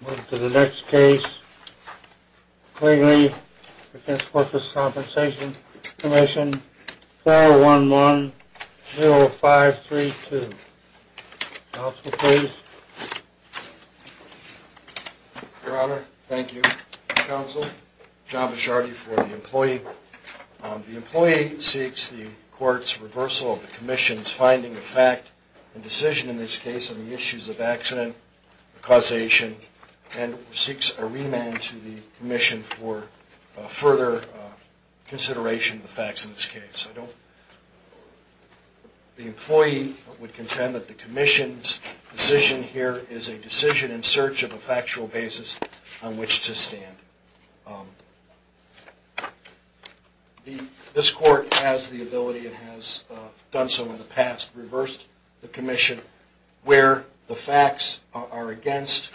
Move to the next case, Klingele v. Workers' Compensation Comm'n, file 11-0532. Counsel, please. Your Honor, thank you. Counsel, John Bishardi for the employee. The employee seeks the court's reversal of the commission's finding of fact and decision in this case on the issues of accident causation and seeks a remand to the commission for further consideration of the facts in this case. The employee would contend that the commission's decision here is a decision in search of a factual basis on which to stand. This court has the ability and has done so in the past, reversed the commission where the facts are against,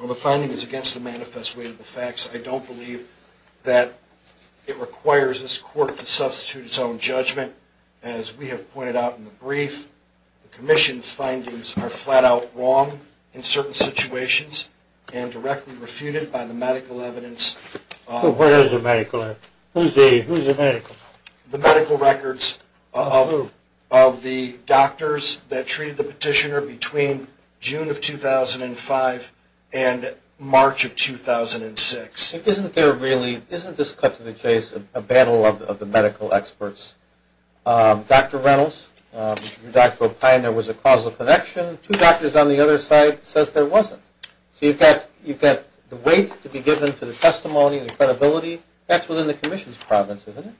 or the finding is against the manifest way of the facts. I don't believe that it requires this court to substitute its own judgment. As we have pointed out in the brief, the commission's findings are flat out wrong in certain situations and directly refuted by the medical records of the doctors that treated the petitioner between June of 2005 and March of 2006. Isn't there really, isn't this cut to the chase a battle of the medical experts? Dr. Reynolds, Dr. O'Pine, there was a causal connection. Two doctors on the other side says there wasn't. So you've got the weight to be given to the testimony and the credibility. That's within the commission's province, isn't it?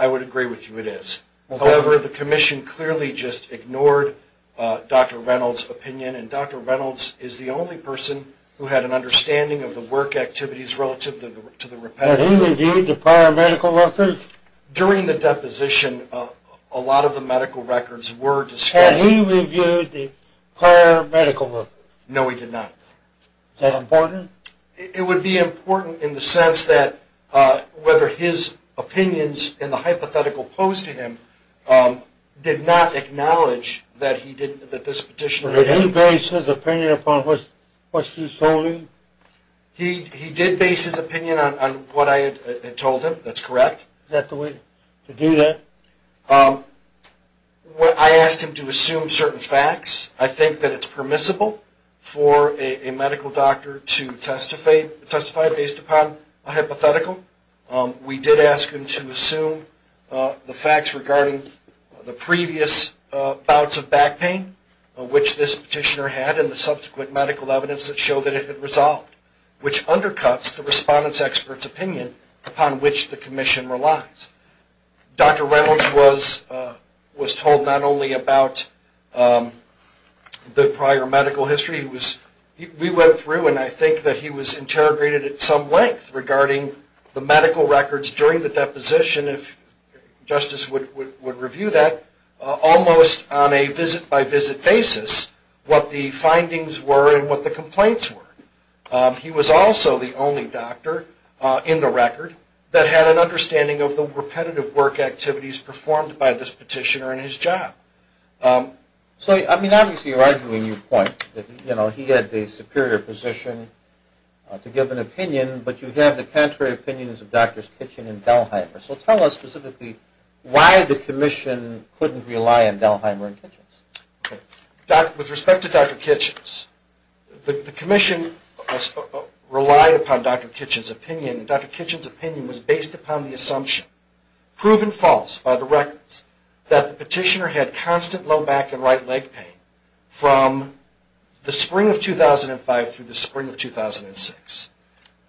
I would agree with you it is. However, the commission clearly just ignored Dr. Reynolds' opinion, and Dr. Reynolds is the only person who had an understanding of the work activities relative to the repetitive. Had he reviewed the prior medical records? During the deposition, a lot of the medical records were discussed. Had he reviewed the prior medical records? No, he did not. Is that important? It would be important in the sense that whether his opinions in the hypothetical posed to him did not acknowledge that this petitioner had… Did he base his opinion upon what you told him? He did base his opinion on what I had told him. That's correct. Is that the way to do that? I asked him to assume certain facts. I think that it's permissible for a medical doctor to testify based upon a hypothetical. We did ask him to assume the facts regarding the previous bouts of back pain, which this petitioner had, and the subsequent medical evidence that showed that it had resolved, which undercuts the respondent's expert's opinion upon which the commission relies. Dr. Reynolds was told not only about the prior medical history. We went through, and I think that he was interrogated at some length, regarding the medical records during the deposition, if justice would review that, almost on a visit-by-visit basis, what the findings were and what the complaints were. He was also the only doctor in the record that had an understanding of the repetitive work activities performed by this petitioner in his job. Obviously, you're arguing your point that he had the superior position to give an opinion, but you have the contrary opinions of Drs. Kitchen and Dalheimer. Tell us specifically why the commission couldn't rely on Dalheimer and Kitchens. With respect to Dr. Kitchens, the commission relied upon Dr. Kitchens' opinion, and Dr. Kitchens' opinion was based upon the assumption, proven false by the records, that the petitioner had constant low back and right leg pain from the spring of 2005 through the spring of 2006.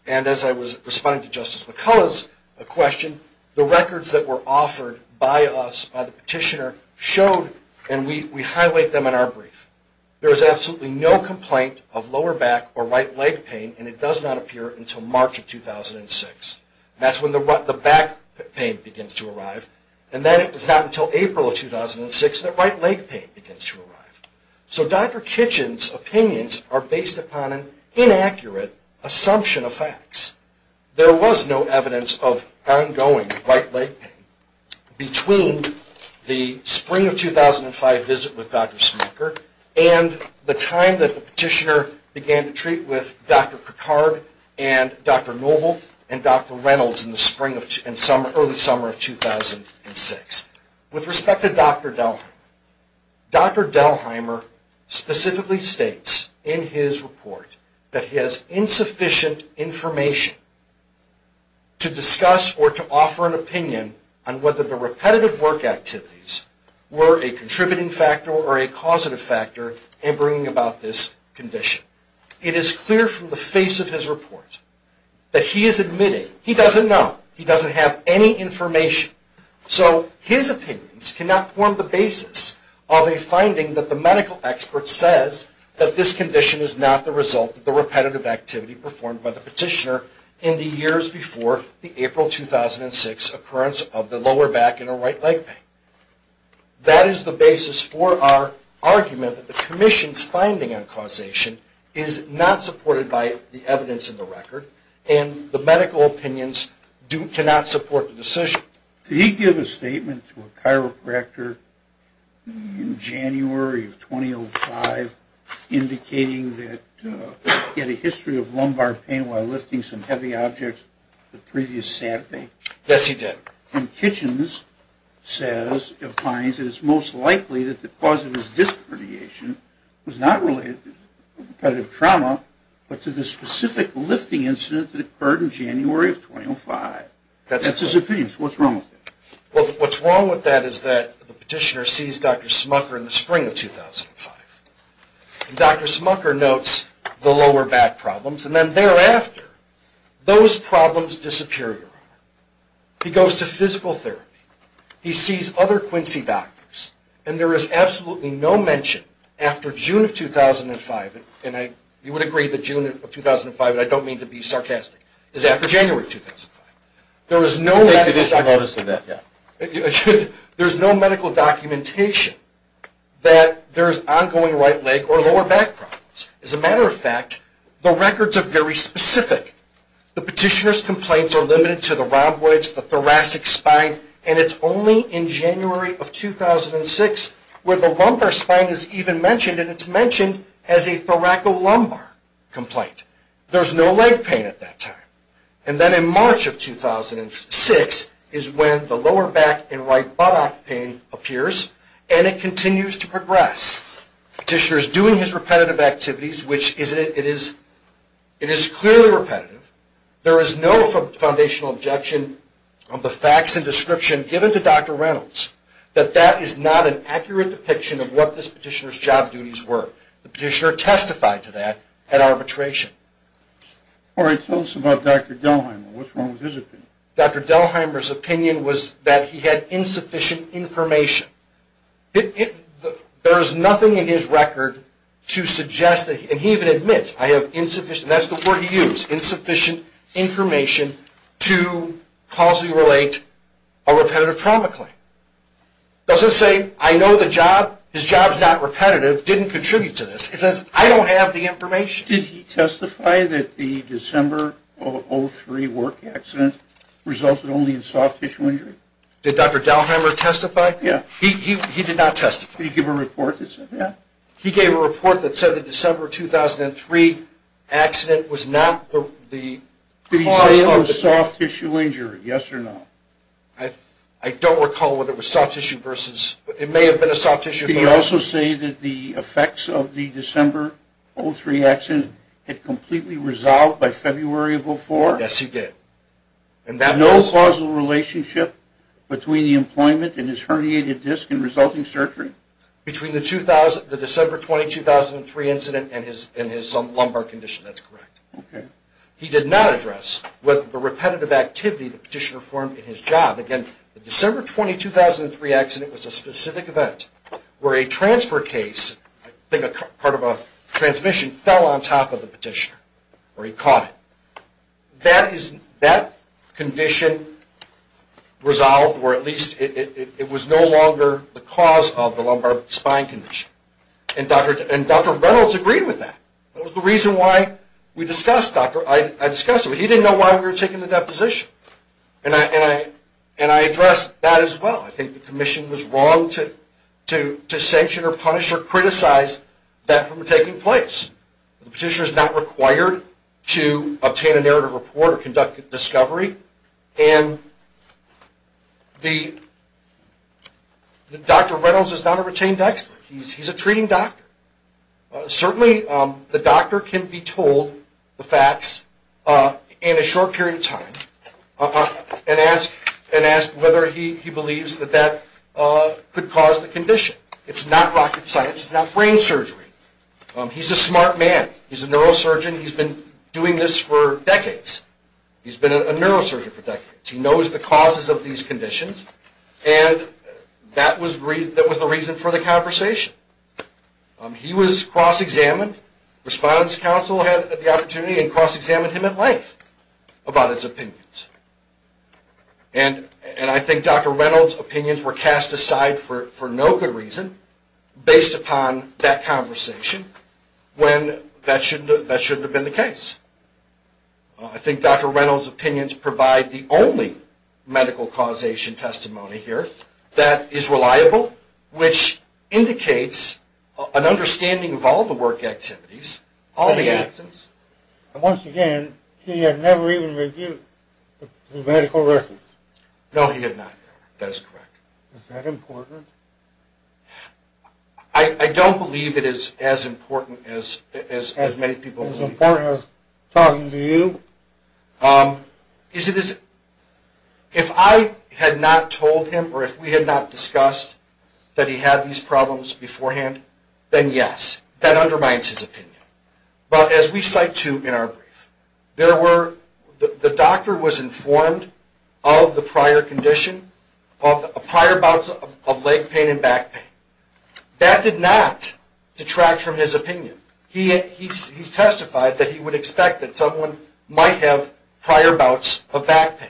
And as I was responding to Justice McCullough's question, the records that were offered by us, by the petitioner, showed, and we highlight them in our brief, there is absolutely no complaint of lower back or right leg pain, and it does not appear until March of 2006. That's when the back pain begins to arrive, and then it's not until April of 2006 that right leg pain begins to arrive. So Dr. Kitchens' opinions are based upon an inaccurate assumption of facts. There was no evidence of ongoing right leg pain between the spring of 2005 visit with Dr. Smucker and the time that the petitioner began to treat with Dr. Kirkhard and Dr. Noble and Dr. Reynolds in the early summer of 2006. With respect to Dr. Dalheimer, Dr. Dalheimer specifically states in his report that he has insufficient information to discuss or to offer an opinion on whether the repetitive work activities were a contributing factor or a causative factor in bringing about this condition. It is clear from the face of his report that he is admitting he doesn't know. He doesn't have any information. So his opinions cannot form the basis of a finding that the medical expert says that this condition is not the result of the repetitive activity performed by the petitioner in the years before the April 2006 occurrence of the lower back and or right leg pain. That is the basis for our argument that the Commission's finding on causation is not supported by the evidence in the record, and the medical opinions cannot support the decision. Did he give a statement to a chiropractor in January of 2005 indicating that he had a history of lumbar pain while lifting some heavy objects the previous Saturday? Yes, he did. And Kitchens says, finds it is most likely that the cause of his disc herniation was not related to repetitive trauma but to the specific lifting incident that occurred in January of 2005. That's his opinion. So what's wrong with that? Well, what's wrong with that is that the petitioner sees Dr. Smucker in the spring of 2005. Dr. Smucker notes the lower back problems, and then thereafter, those problems disappear. He goes to physical therapy. He sees other Quincy doctors, and there is absolutely no mention after June of 2005, and you would agree that June of 2005, and I don't mean to be sarcastic, is after January of 2005. There is no medical documentation that there is ongoing right leg or lower back problems. As a matter of fact, the records are very specific. The petitioner's complaints are limited to the rhomboids, the thoracic spine, and it's only in January of 2006 where the lumbar spine is even mentioned, and it's mentioned as a thoracolumbar complaint. There's no leg pain at that time. And then in March of 2006 is when the lower back and right buttock pain appears, and it continues to progress. The petitioner is doing his repetitive activities, which it is clearly repetitive. There is no foundational objection of the facts and description given to Dr. Reynolds that that is not an accurate depiction of what this petitioner's job duties were. The petitioner testified to that at arbitration. All right. Tell us about Dr. Delheimer. What's wrong with his opinion? Dr. Delheimer's opinion was that he had insufficient information. There is nothing in his record to suggest, and he even admits, I have insufficient, and that's the word he used, insufficient information to causally relate a repetitive trauma claim. It doesn't say, I know the job, his job's not repetitive, didn't contribute to this. It says, I don't have the information. Did he testify that the December of 2003 work accident resulted only in soft tissue injury? Did Dr. Delheimer testify? Yeah. He did not testify. Did he give a report that said that? He gave a report that said the December of 2003 accident was not the cause of the – Did he say it was soft tissue injury, yes or no? I don't recall whether it was soft tissue versus – it may have been a soft tissue – Did he also say that the effects of the December of 2003 accident had completely resolved by February of 2004? Yes, he did. And that was – No causal relationship between the employment and his herniated disc and resulting surgery? Between the December 20, 2003 incident and his lumbar condition. That's correct. Okay. He did not address the repetitive activity the petitioner formed in his job. Again, the December 20, 2003 accident was a specific event where a transfer case, I think part of a transmission, fell on top of the petitioner or he caught it. That condition resolved or at least it was no longer the cause of the lumbar spine condition. And Dr. Reynolds agreed with that. That was the reason why we discussed – I discussed it. He didn't know why we were taking the deposition. And I addressed that as well. I think the commission was wrong to sanction or punish or criticize that from taking place. The petitioner is not required to obtain a narrative report or conduct a discovery. And Dr. Reynolds is not a retained expert. He's a treating doctor. Certainly the doctor can be told the facts in a short period of time and ask whether he believes that that could cause the condition. It's not rocket science. It's not brain surgery. He's a smart man. He's a neurosurgeon. He's been doing this for decades. He's been a neurosurgeon for decades. He knows the causes of these conditions. And that was the reason for the conversation. He was cross-examined. Respondent's counsel had the opportunity and cross-examined him at length about his opinions. And I think Dr. Reynolds' opinions were cast aside for no good reason based upon that conversation when that shouldn't have been the case. I think Dr. Reynolds' opinions provide the only medical causation testimony here that is reliable, which indicates an understanding of all the work activities, all the actions. Once again, he had never even reviewed the medical records. No, he had not. That is correct. Is that important? I don't believe it is as important as many people believe. Is it as important as talking to you? If I had not told him or if we had not discussed that he had these problems beforehand, then yes. That undermines his opinion. But as we cite, too, in our brief, the doctor was informed of the prior condition, of prior bouts of leg pain and back pain. That did not detract from his opinion. He testified that he would expect that someone might have prior bouts of back pain.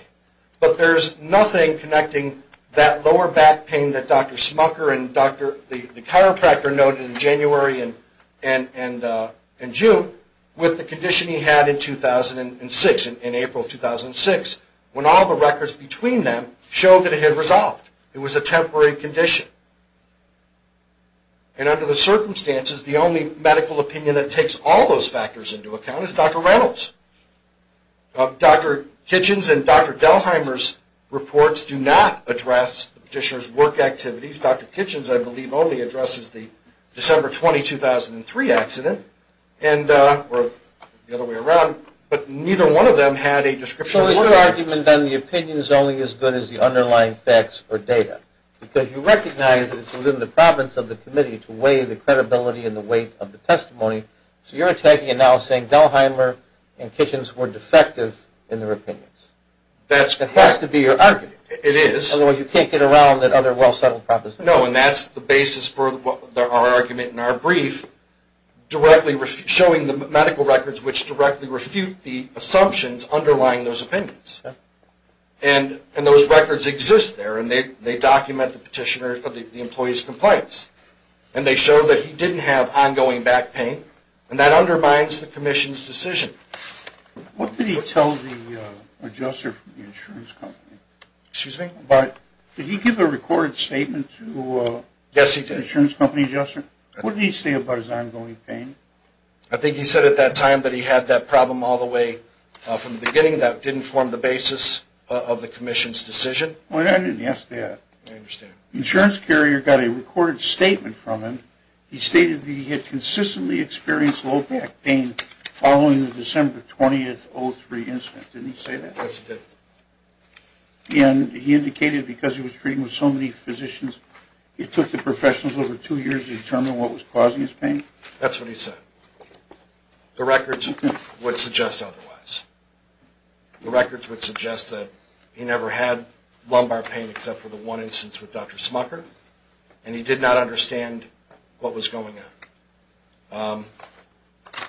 But there is nothing connecting that lower back pain that Dr. Smucker and the chiropractor noted in January and June with the condition he had in 2006, in April 2006, when all the records between them showed that it had resolved. It was a temporary condition. And under the circumstances, the only medical opinion that takes all those factors into account is Dr. Reynolds'. Dr. Kitchens and Dr. Delheimer's reports do not address the petitioner's work activities. Dr. Kitchens, I believe, only addresses the December 20, 2003 accident. Or the other way around. But neither one of them had a description of work activities. So is your argument on the opinions only as good as the underlying facts or data? Because you recognize that it's within the province of the committee to weigh the credibility and the weight of the testimony. So you're attacking and now saying Delheimer and Kitchens were defective in their opinions. That's correct. That has to be your argument. It is. Otherwise you can't get around that other well-settled proposition. No, and that's the basis for our argument in our brief, directly showing the medical records which directly refute the assumptions underlying those opinions. And those records exist there, and they document the petitioner, the employee's complaints. And they show that he didn't have ongoing back pain. And that undermines the commission's decision. What did he tell the adjuster from the insurance company? Excuse me? Did he give a recorded statement to the insurance company adjuster? Yes, he did. What did he say about his ongoing pain? I think he said at that time that he had that problem all the way from the beginning that didn't form the basis of the commission's decision. I didn't ask that. I understand. The insurance carrier got a recorded statement from him. He stated that he had consistently experienced low back pain following the December 20, 2003 incident. Didn't he say that? Yes, he did. And he indicated because he was treating with so many physicians, it took the professionals over two years to determine what was causing his pain? That's what he said. The records would suggest otherwise. The records would suggest that he never had lumbar pain except for the one instance with Dr. Smucker, and he did not understand what was going on.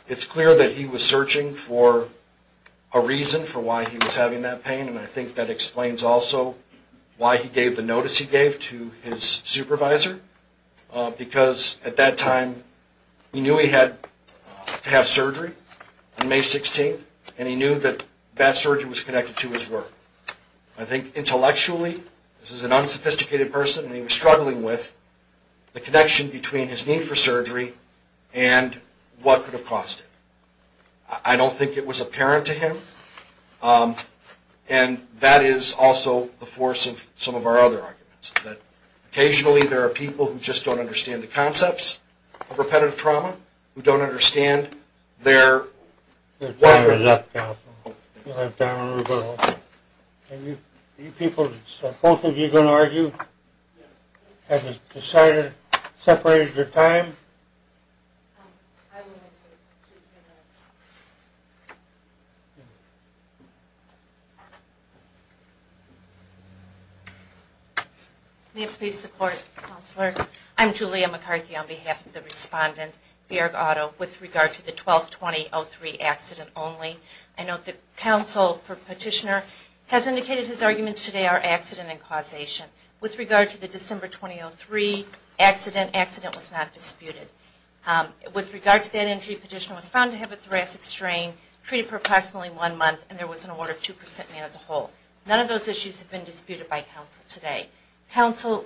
It's clear that he was searching for a reason for why he was having that pain, and I think that explains also why he gave the notice he gave to his supervisor, because at that time he knew he had to have surgery on May 16th, and he knew that that surgery was connected to his work. I think intellectually, this is an unsophisticated person he was struggling with, the connection between his need for surgery and what could have cost him. I don't think it was apparent to him, and that is also the force of some of our other arguments, that occasionally there are people who just don't understand the concepts of repetitive trauma, who don't understand their... Time is up, counsel. Are you people, both of you going to argue? Have you decided, separated your time? May it please the court, counselors. I'm Julia McCarthy on behalf of the respondent, Baird Auto, with regard to the 12-2003 accident only. I note that counsel for petitioner has indicated his arguments today are accident and causation. With regard to the December 2003 accident, accident was not disputed. With regard to that injury, petitioner was found to have a thoracic strain, treated for approximately one month, and there was an order of 2% man as a whole. None of those issues have been disputed by counsel today. Counsel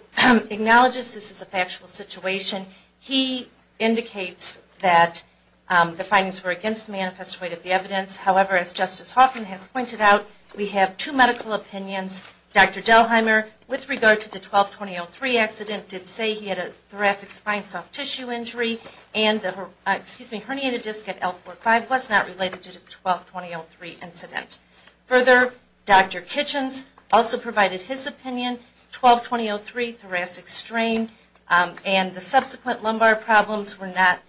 acknowledges this is a factual situation. He indicates that the findings were against the manifesto weight of the evidence. However, as Justice Hoffman has pointed out, we have two medical opinions. Dr. Delheimer, with regard to the 12-2003 accident, did say he had a thoracic spine soft tissue injury, and the herniated disc at L45 was not related to the 12-2003 incident. Further, Dr. Kitchens also provided his opinion. 12-2003, thoracic strain, and the subsequent lumbar problems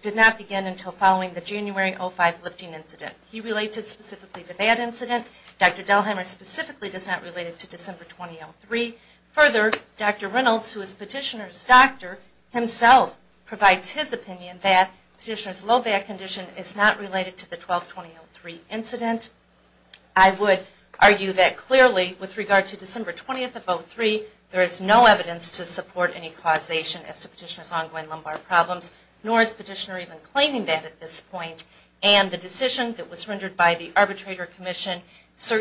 did not begin until following the January 2005 lifting incident. He relates it specifically to that incident. Dr. Delheimer specifically does not relate it to December 2003. Further, Dr. Reynolds, who is petitioner's doctor, himself provides his opinion that petitioner's low back condition is not related to the 12-2003 incident. I would argue that clearly, with regard to December 20th of 2003, there is no evidence to support any causation as to petitioner's ongoing lumbar problems, nor is petitioner even claiming that at this point. And the decision that was rendered by the Arbitrator Commission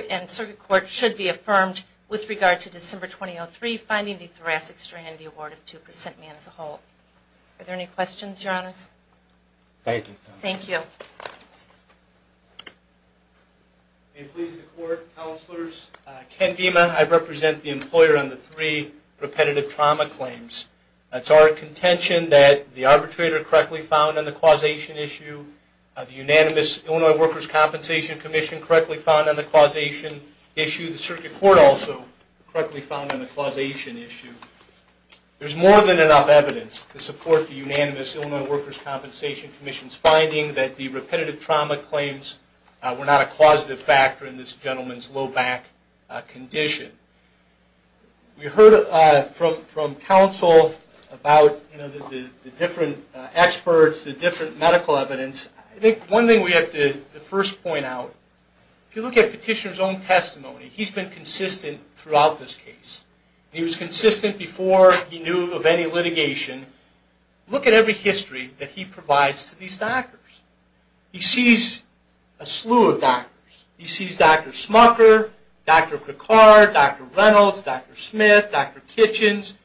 and Circuit Court should be affirmed with regard to December 2003, finding the thoracic strain in the award of 2% mean as a whole. Are there any questions, Your Honors? Thank you. Thank you. May it please the Court, Counselors. Ken Gima, I represent the employer on the three repetitive trauma claims. It's our contention that the Arbitrator correctly found on the causation issue, the unanimous Illinois Workers' Compensation Commission correctly found on the causation issue, the Circuit Court also correctly found on the causation issue. There's more than enough evidence to support the unanimous Illinois Workers' Compensation Commission's finding that the repetitive trauma claims were not a causative factor in this gentleman's low back condition. We heard from counsel about the different experts, the different medical evidence. I think one thing we have to first point out, if you look at petitioner's own testimony, he's been consistent throughout this case. He was consistent before he knew of any litigation. Look at every history that he provides to these doctors. He sees a slew of doctors. He sees Dr. Smucker, Dr. Picard, Dr. Reynolds, Dr. Smith, Dr. Kitchens.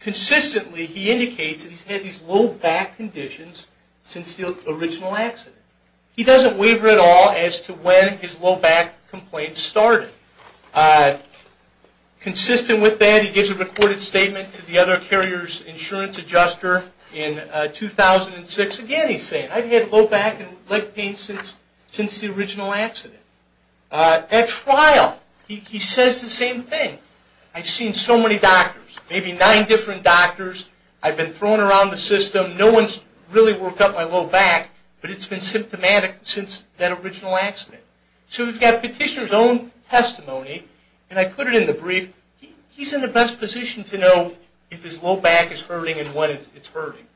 Consistently, he indicates that he's had these low back conditions since the original accident. He doesn't waver at all as to when his low back complaints started. Consistent with that, he gives a recorded statement to the other carrier's insurance adjuster in 2006. Again, he's saying, I've had low back and leg pain since the original accident. At trial, he says the same thing. I've seen so many doctors, maybe nine different doctors. I've been thrown around the system. No one's really worked up my low back, but it's been symptomatic since that original accident. So we've got petitioner's own testimony, and I put it in the brief. He's in the best position to know if his low back is hurting and when it's hurting.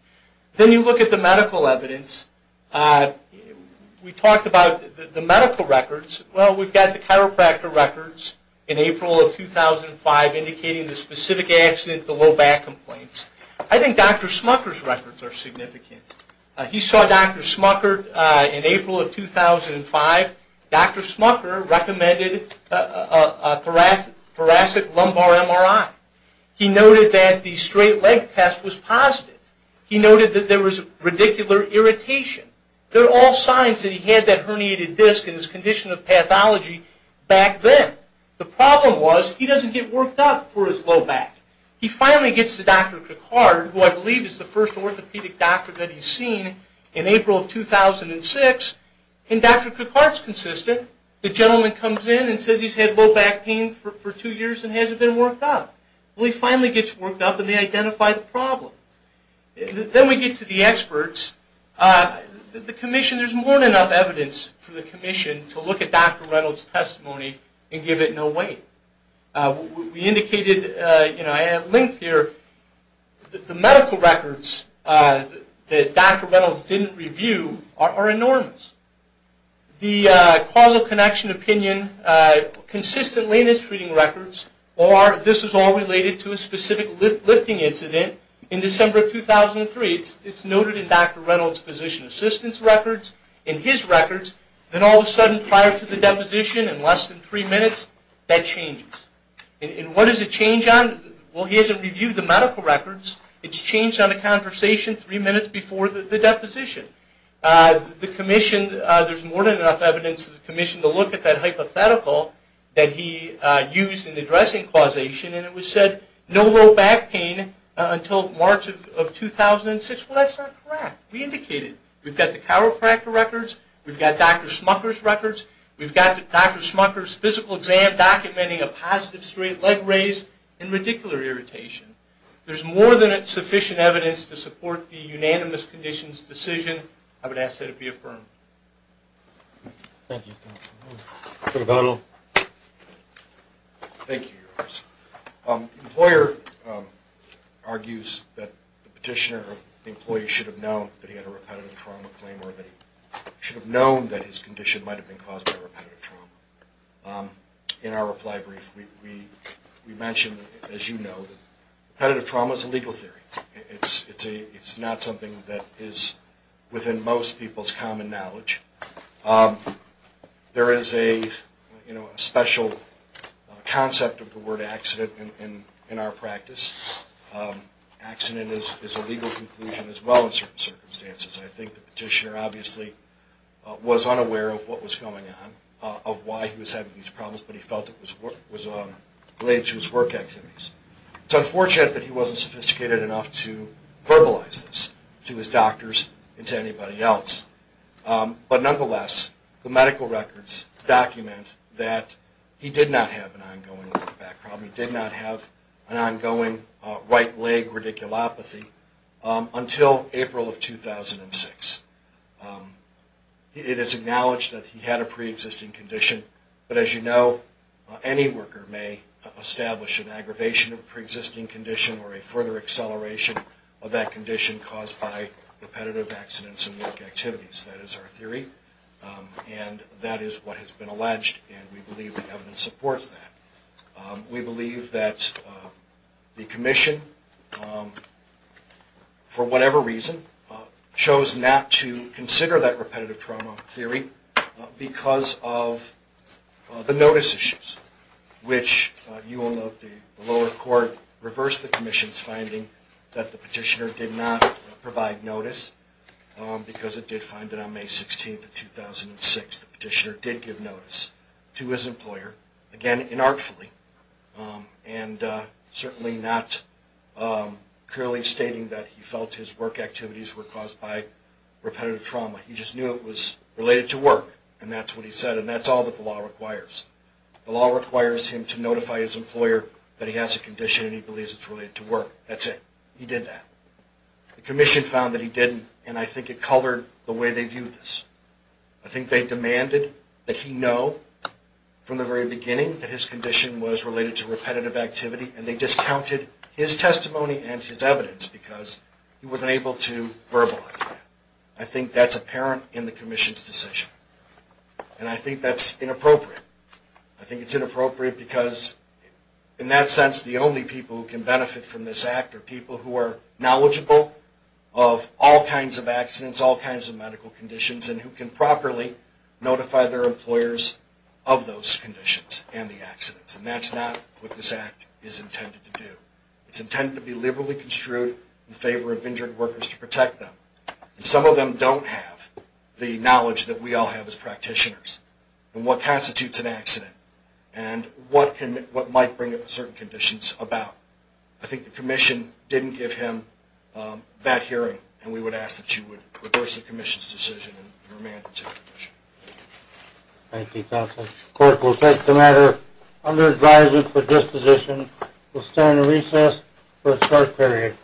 Then you look at the medical evidence. We talked about the medical records. Well, we've got the chiropractor records in April of 2005, indicating the specific accident, the low back complaints. I think Dr. Smucker's records are significant. He saw Dr. Smucker in April of 2005. Dr. Smucker recommended a thoracic lumbar MRI. He noted that the straight leg test was positive. He noted that there was radicular irritation. They're all signs that he had that herniated disc in his condition of pathology back then. The problem was he doesn't get worked up for his low back. He finally gets to Dr. Picard, who I believe is the first orthopedic doctor that he's seen, in April of 2006, and Dr. Picard's consistent. The gentleman comes in and says he's had low back pain for two years and hasn't been worked up. Well, he finally gets worked up, and they identify the problem. Then we get to the experts. The commission, there's more than enough evidence for the commission to look at Dr. Reynolds' testimony and give it no weight. We indicated, and I have a link here, that the medical records that Dr. Reynolds didn't review are enormous. The causal connection opinion consistently in his treating records are, this is all related to a specific lifting incident in December of 2003. It's noted in Dr. Reynolds' physician assistance records, in his records, that all of a sudden prior to the deposition, in less than three minutes, that changes. And what does it change on? Well, he hasn't reviewed the medical records. It's changed on a conversation three minutes before the deposition. The commission, there's more than enough evidence for the commission to look at that hypothetical that he used in addressing causation, and it was said no low back pain until March of 2006. Well, that's not correct. We indicated. We've got the chiropractor records. We've got Dr. Smucker's records. We've got Dr. Smucker's physical exam documenting a positive straight leg raise and radicular irritation. There's more than sufficient evidence to support the unanimous conditions decision. I would ask that it be affirmed. Thank you. Senator Bono. Thank you. The employer argues that the petitioner employee should have known that he had a repetitive trauma claim or that he should have known that his condition might have been caused by repetitive trauma. In our reply brief, we mentioned, as you know, that repetitive trauma is a legal theory. It's not something that is within most people's common knowledge. There is a special concept of the word accident in our practice. Accident is a legal conclusion as well in certain circumstances. I think the petitioner obviously was unaware of what was going on, of why he was having these problems, but he felt it was related to his work activities. It's unfortunate that he wasn't sophisticated enough to verbalize this to his doctors and to anybody else. But nonetheless, the medical records document that he did not have an ongoing back problem. He did not have an ongoing right leg radiculopathy until April of 2006. It is acknowledged that he had a pre-existing condition, but as you know, any worker may establish an aggravation of a pre-existing condition or a further acceleration of that condition caused by repetitive accidents and work activities. That is our theory, and that is what has been alleged, and we believe the evidence supports that. We believe that the Commission, for whatever reason, chose not to consider that repetitive trauma theory because of the notice issues, which you will note the lower court reversed the Commission's finding that the petitioner did not provide notice because it did find that on May 16, 2006, the petitioner did give notice to his employer, again, inartfully, and certainly not clearly stating that he felt his work activities were caused by repetitive trauma. He just knew it was related to work, and that's what he said, and that's all that the law requires. The law requires him to notify his employer that he has a condition and he believes it's related to work. That's it. He did that. The Commission found that he didn't, and I think it colored the way they viewed this. I think they demanded that he know from the very beginning that his condition was related to repetitive activity, and they discounted his testimony and his evidence because he wasn't able to verbalize that. I think that's apparent in the Commission's decision, and I think that's inappropriate. I think it's inappropriate because, in that sense, the only people who can benefit from this Act are people who are knowledgeable of all kinds of accidents, all kinds of medical conditions, and who can properly notify their employers of those conditions and the accidents, and that's not what this Act is intended to do. It's intended to be liberally construed in favor of injured workers to protect them, and some of them don't have the knowledge that we all have as practitioners. And what constitutes an accident, and what might bring up certain conditions about. I think the Commission didn't give him that hearing, and we would ask that you would reverse the Commission's decision and remand it to the Commission. Thank you, Counsel. The Court will take the matter under advisory for disposition. We'll stand recess for a short period.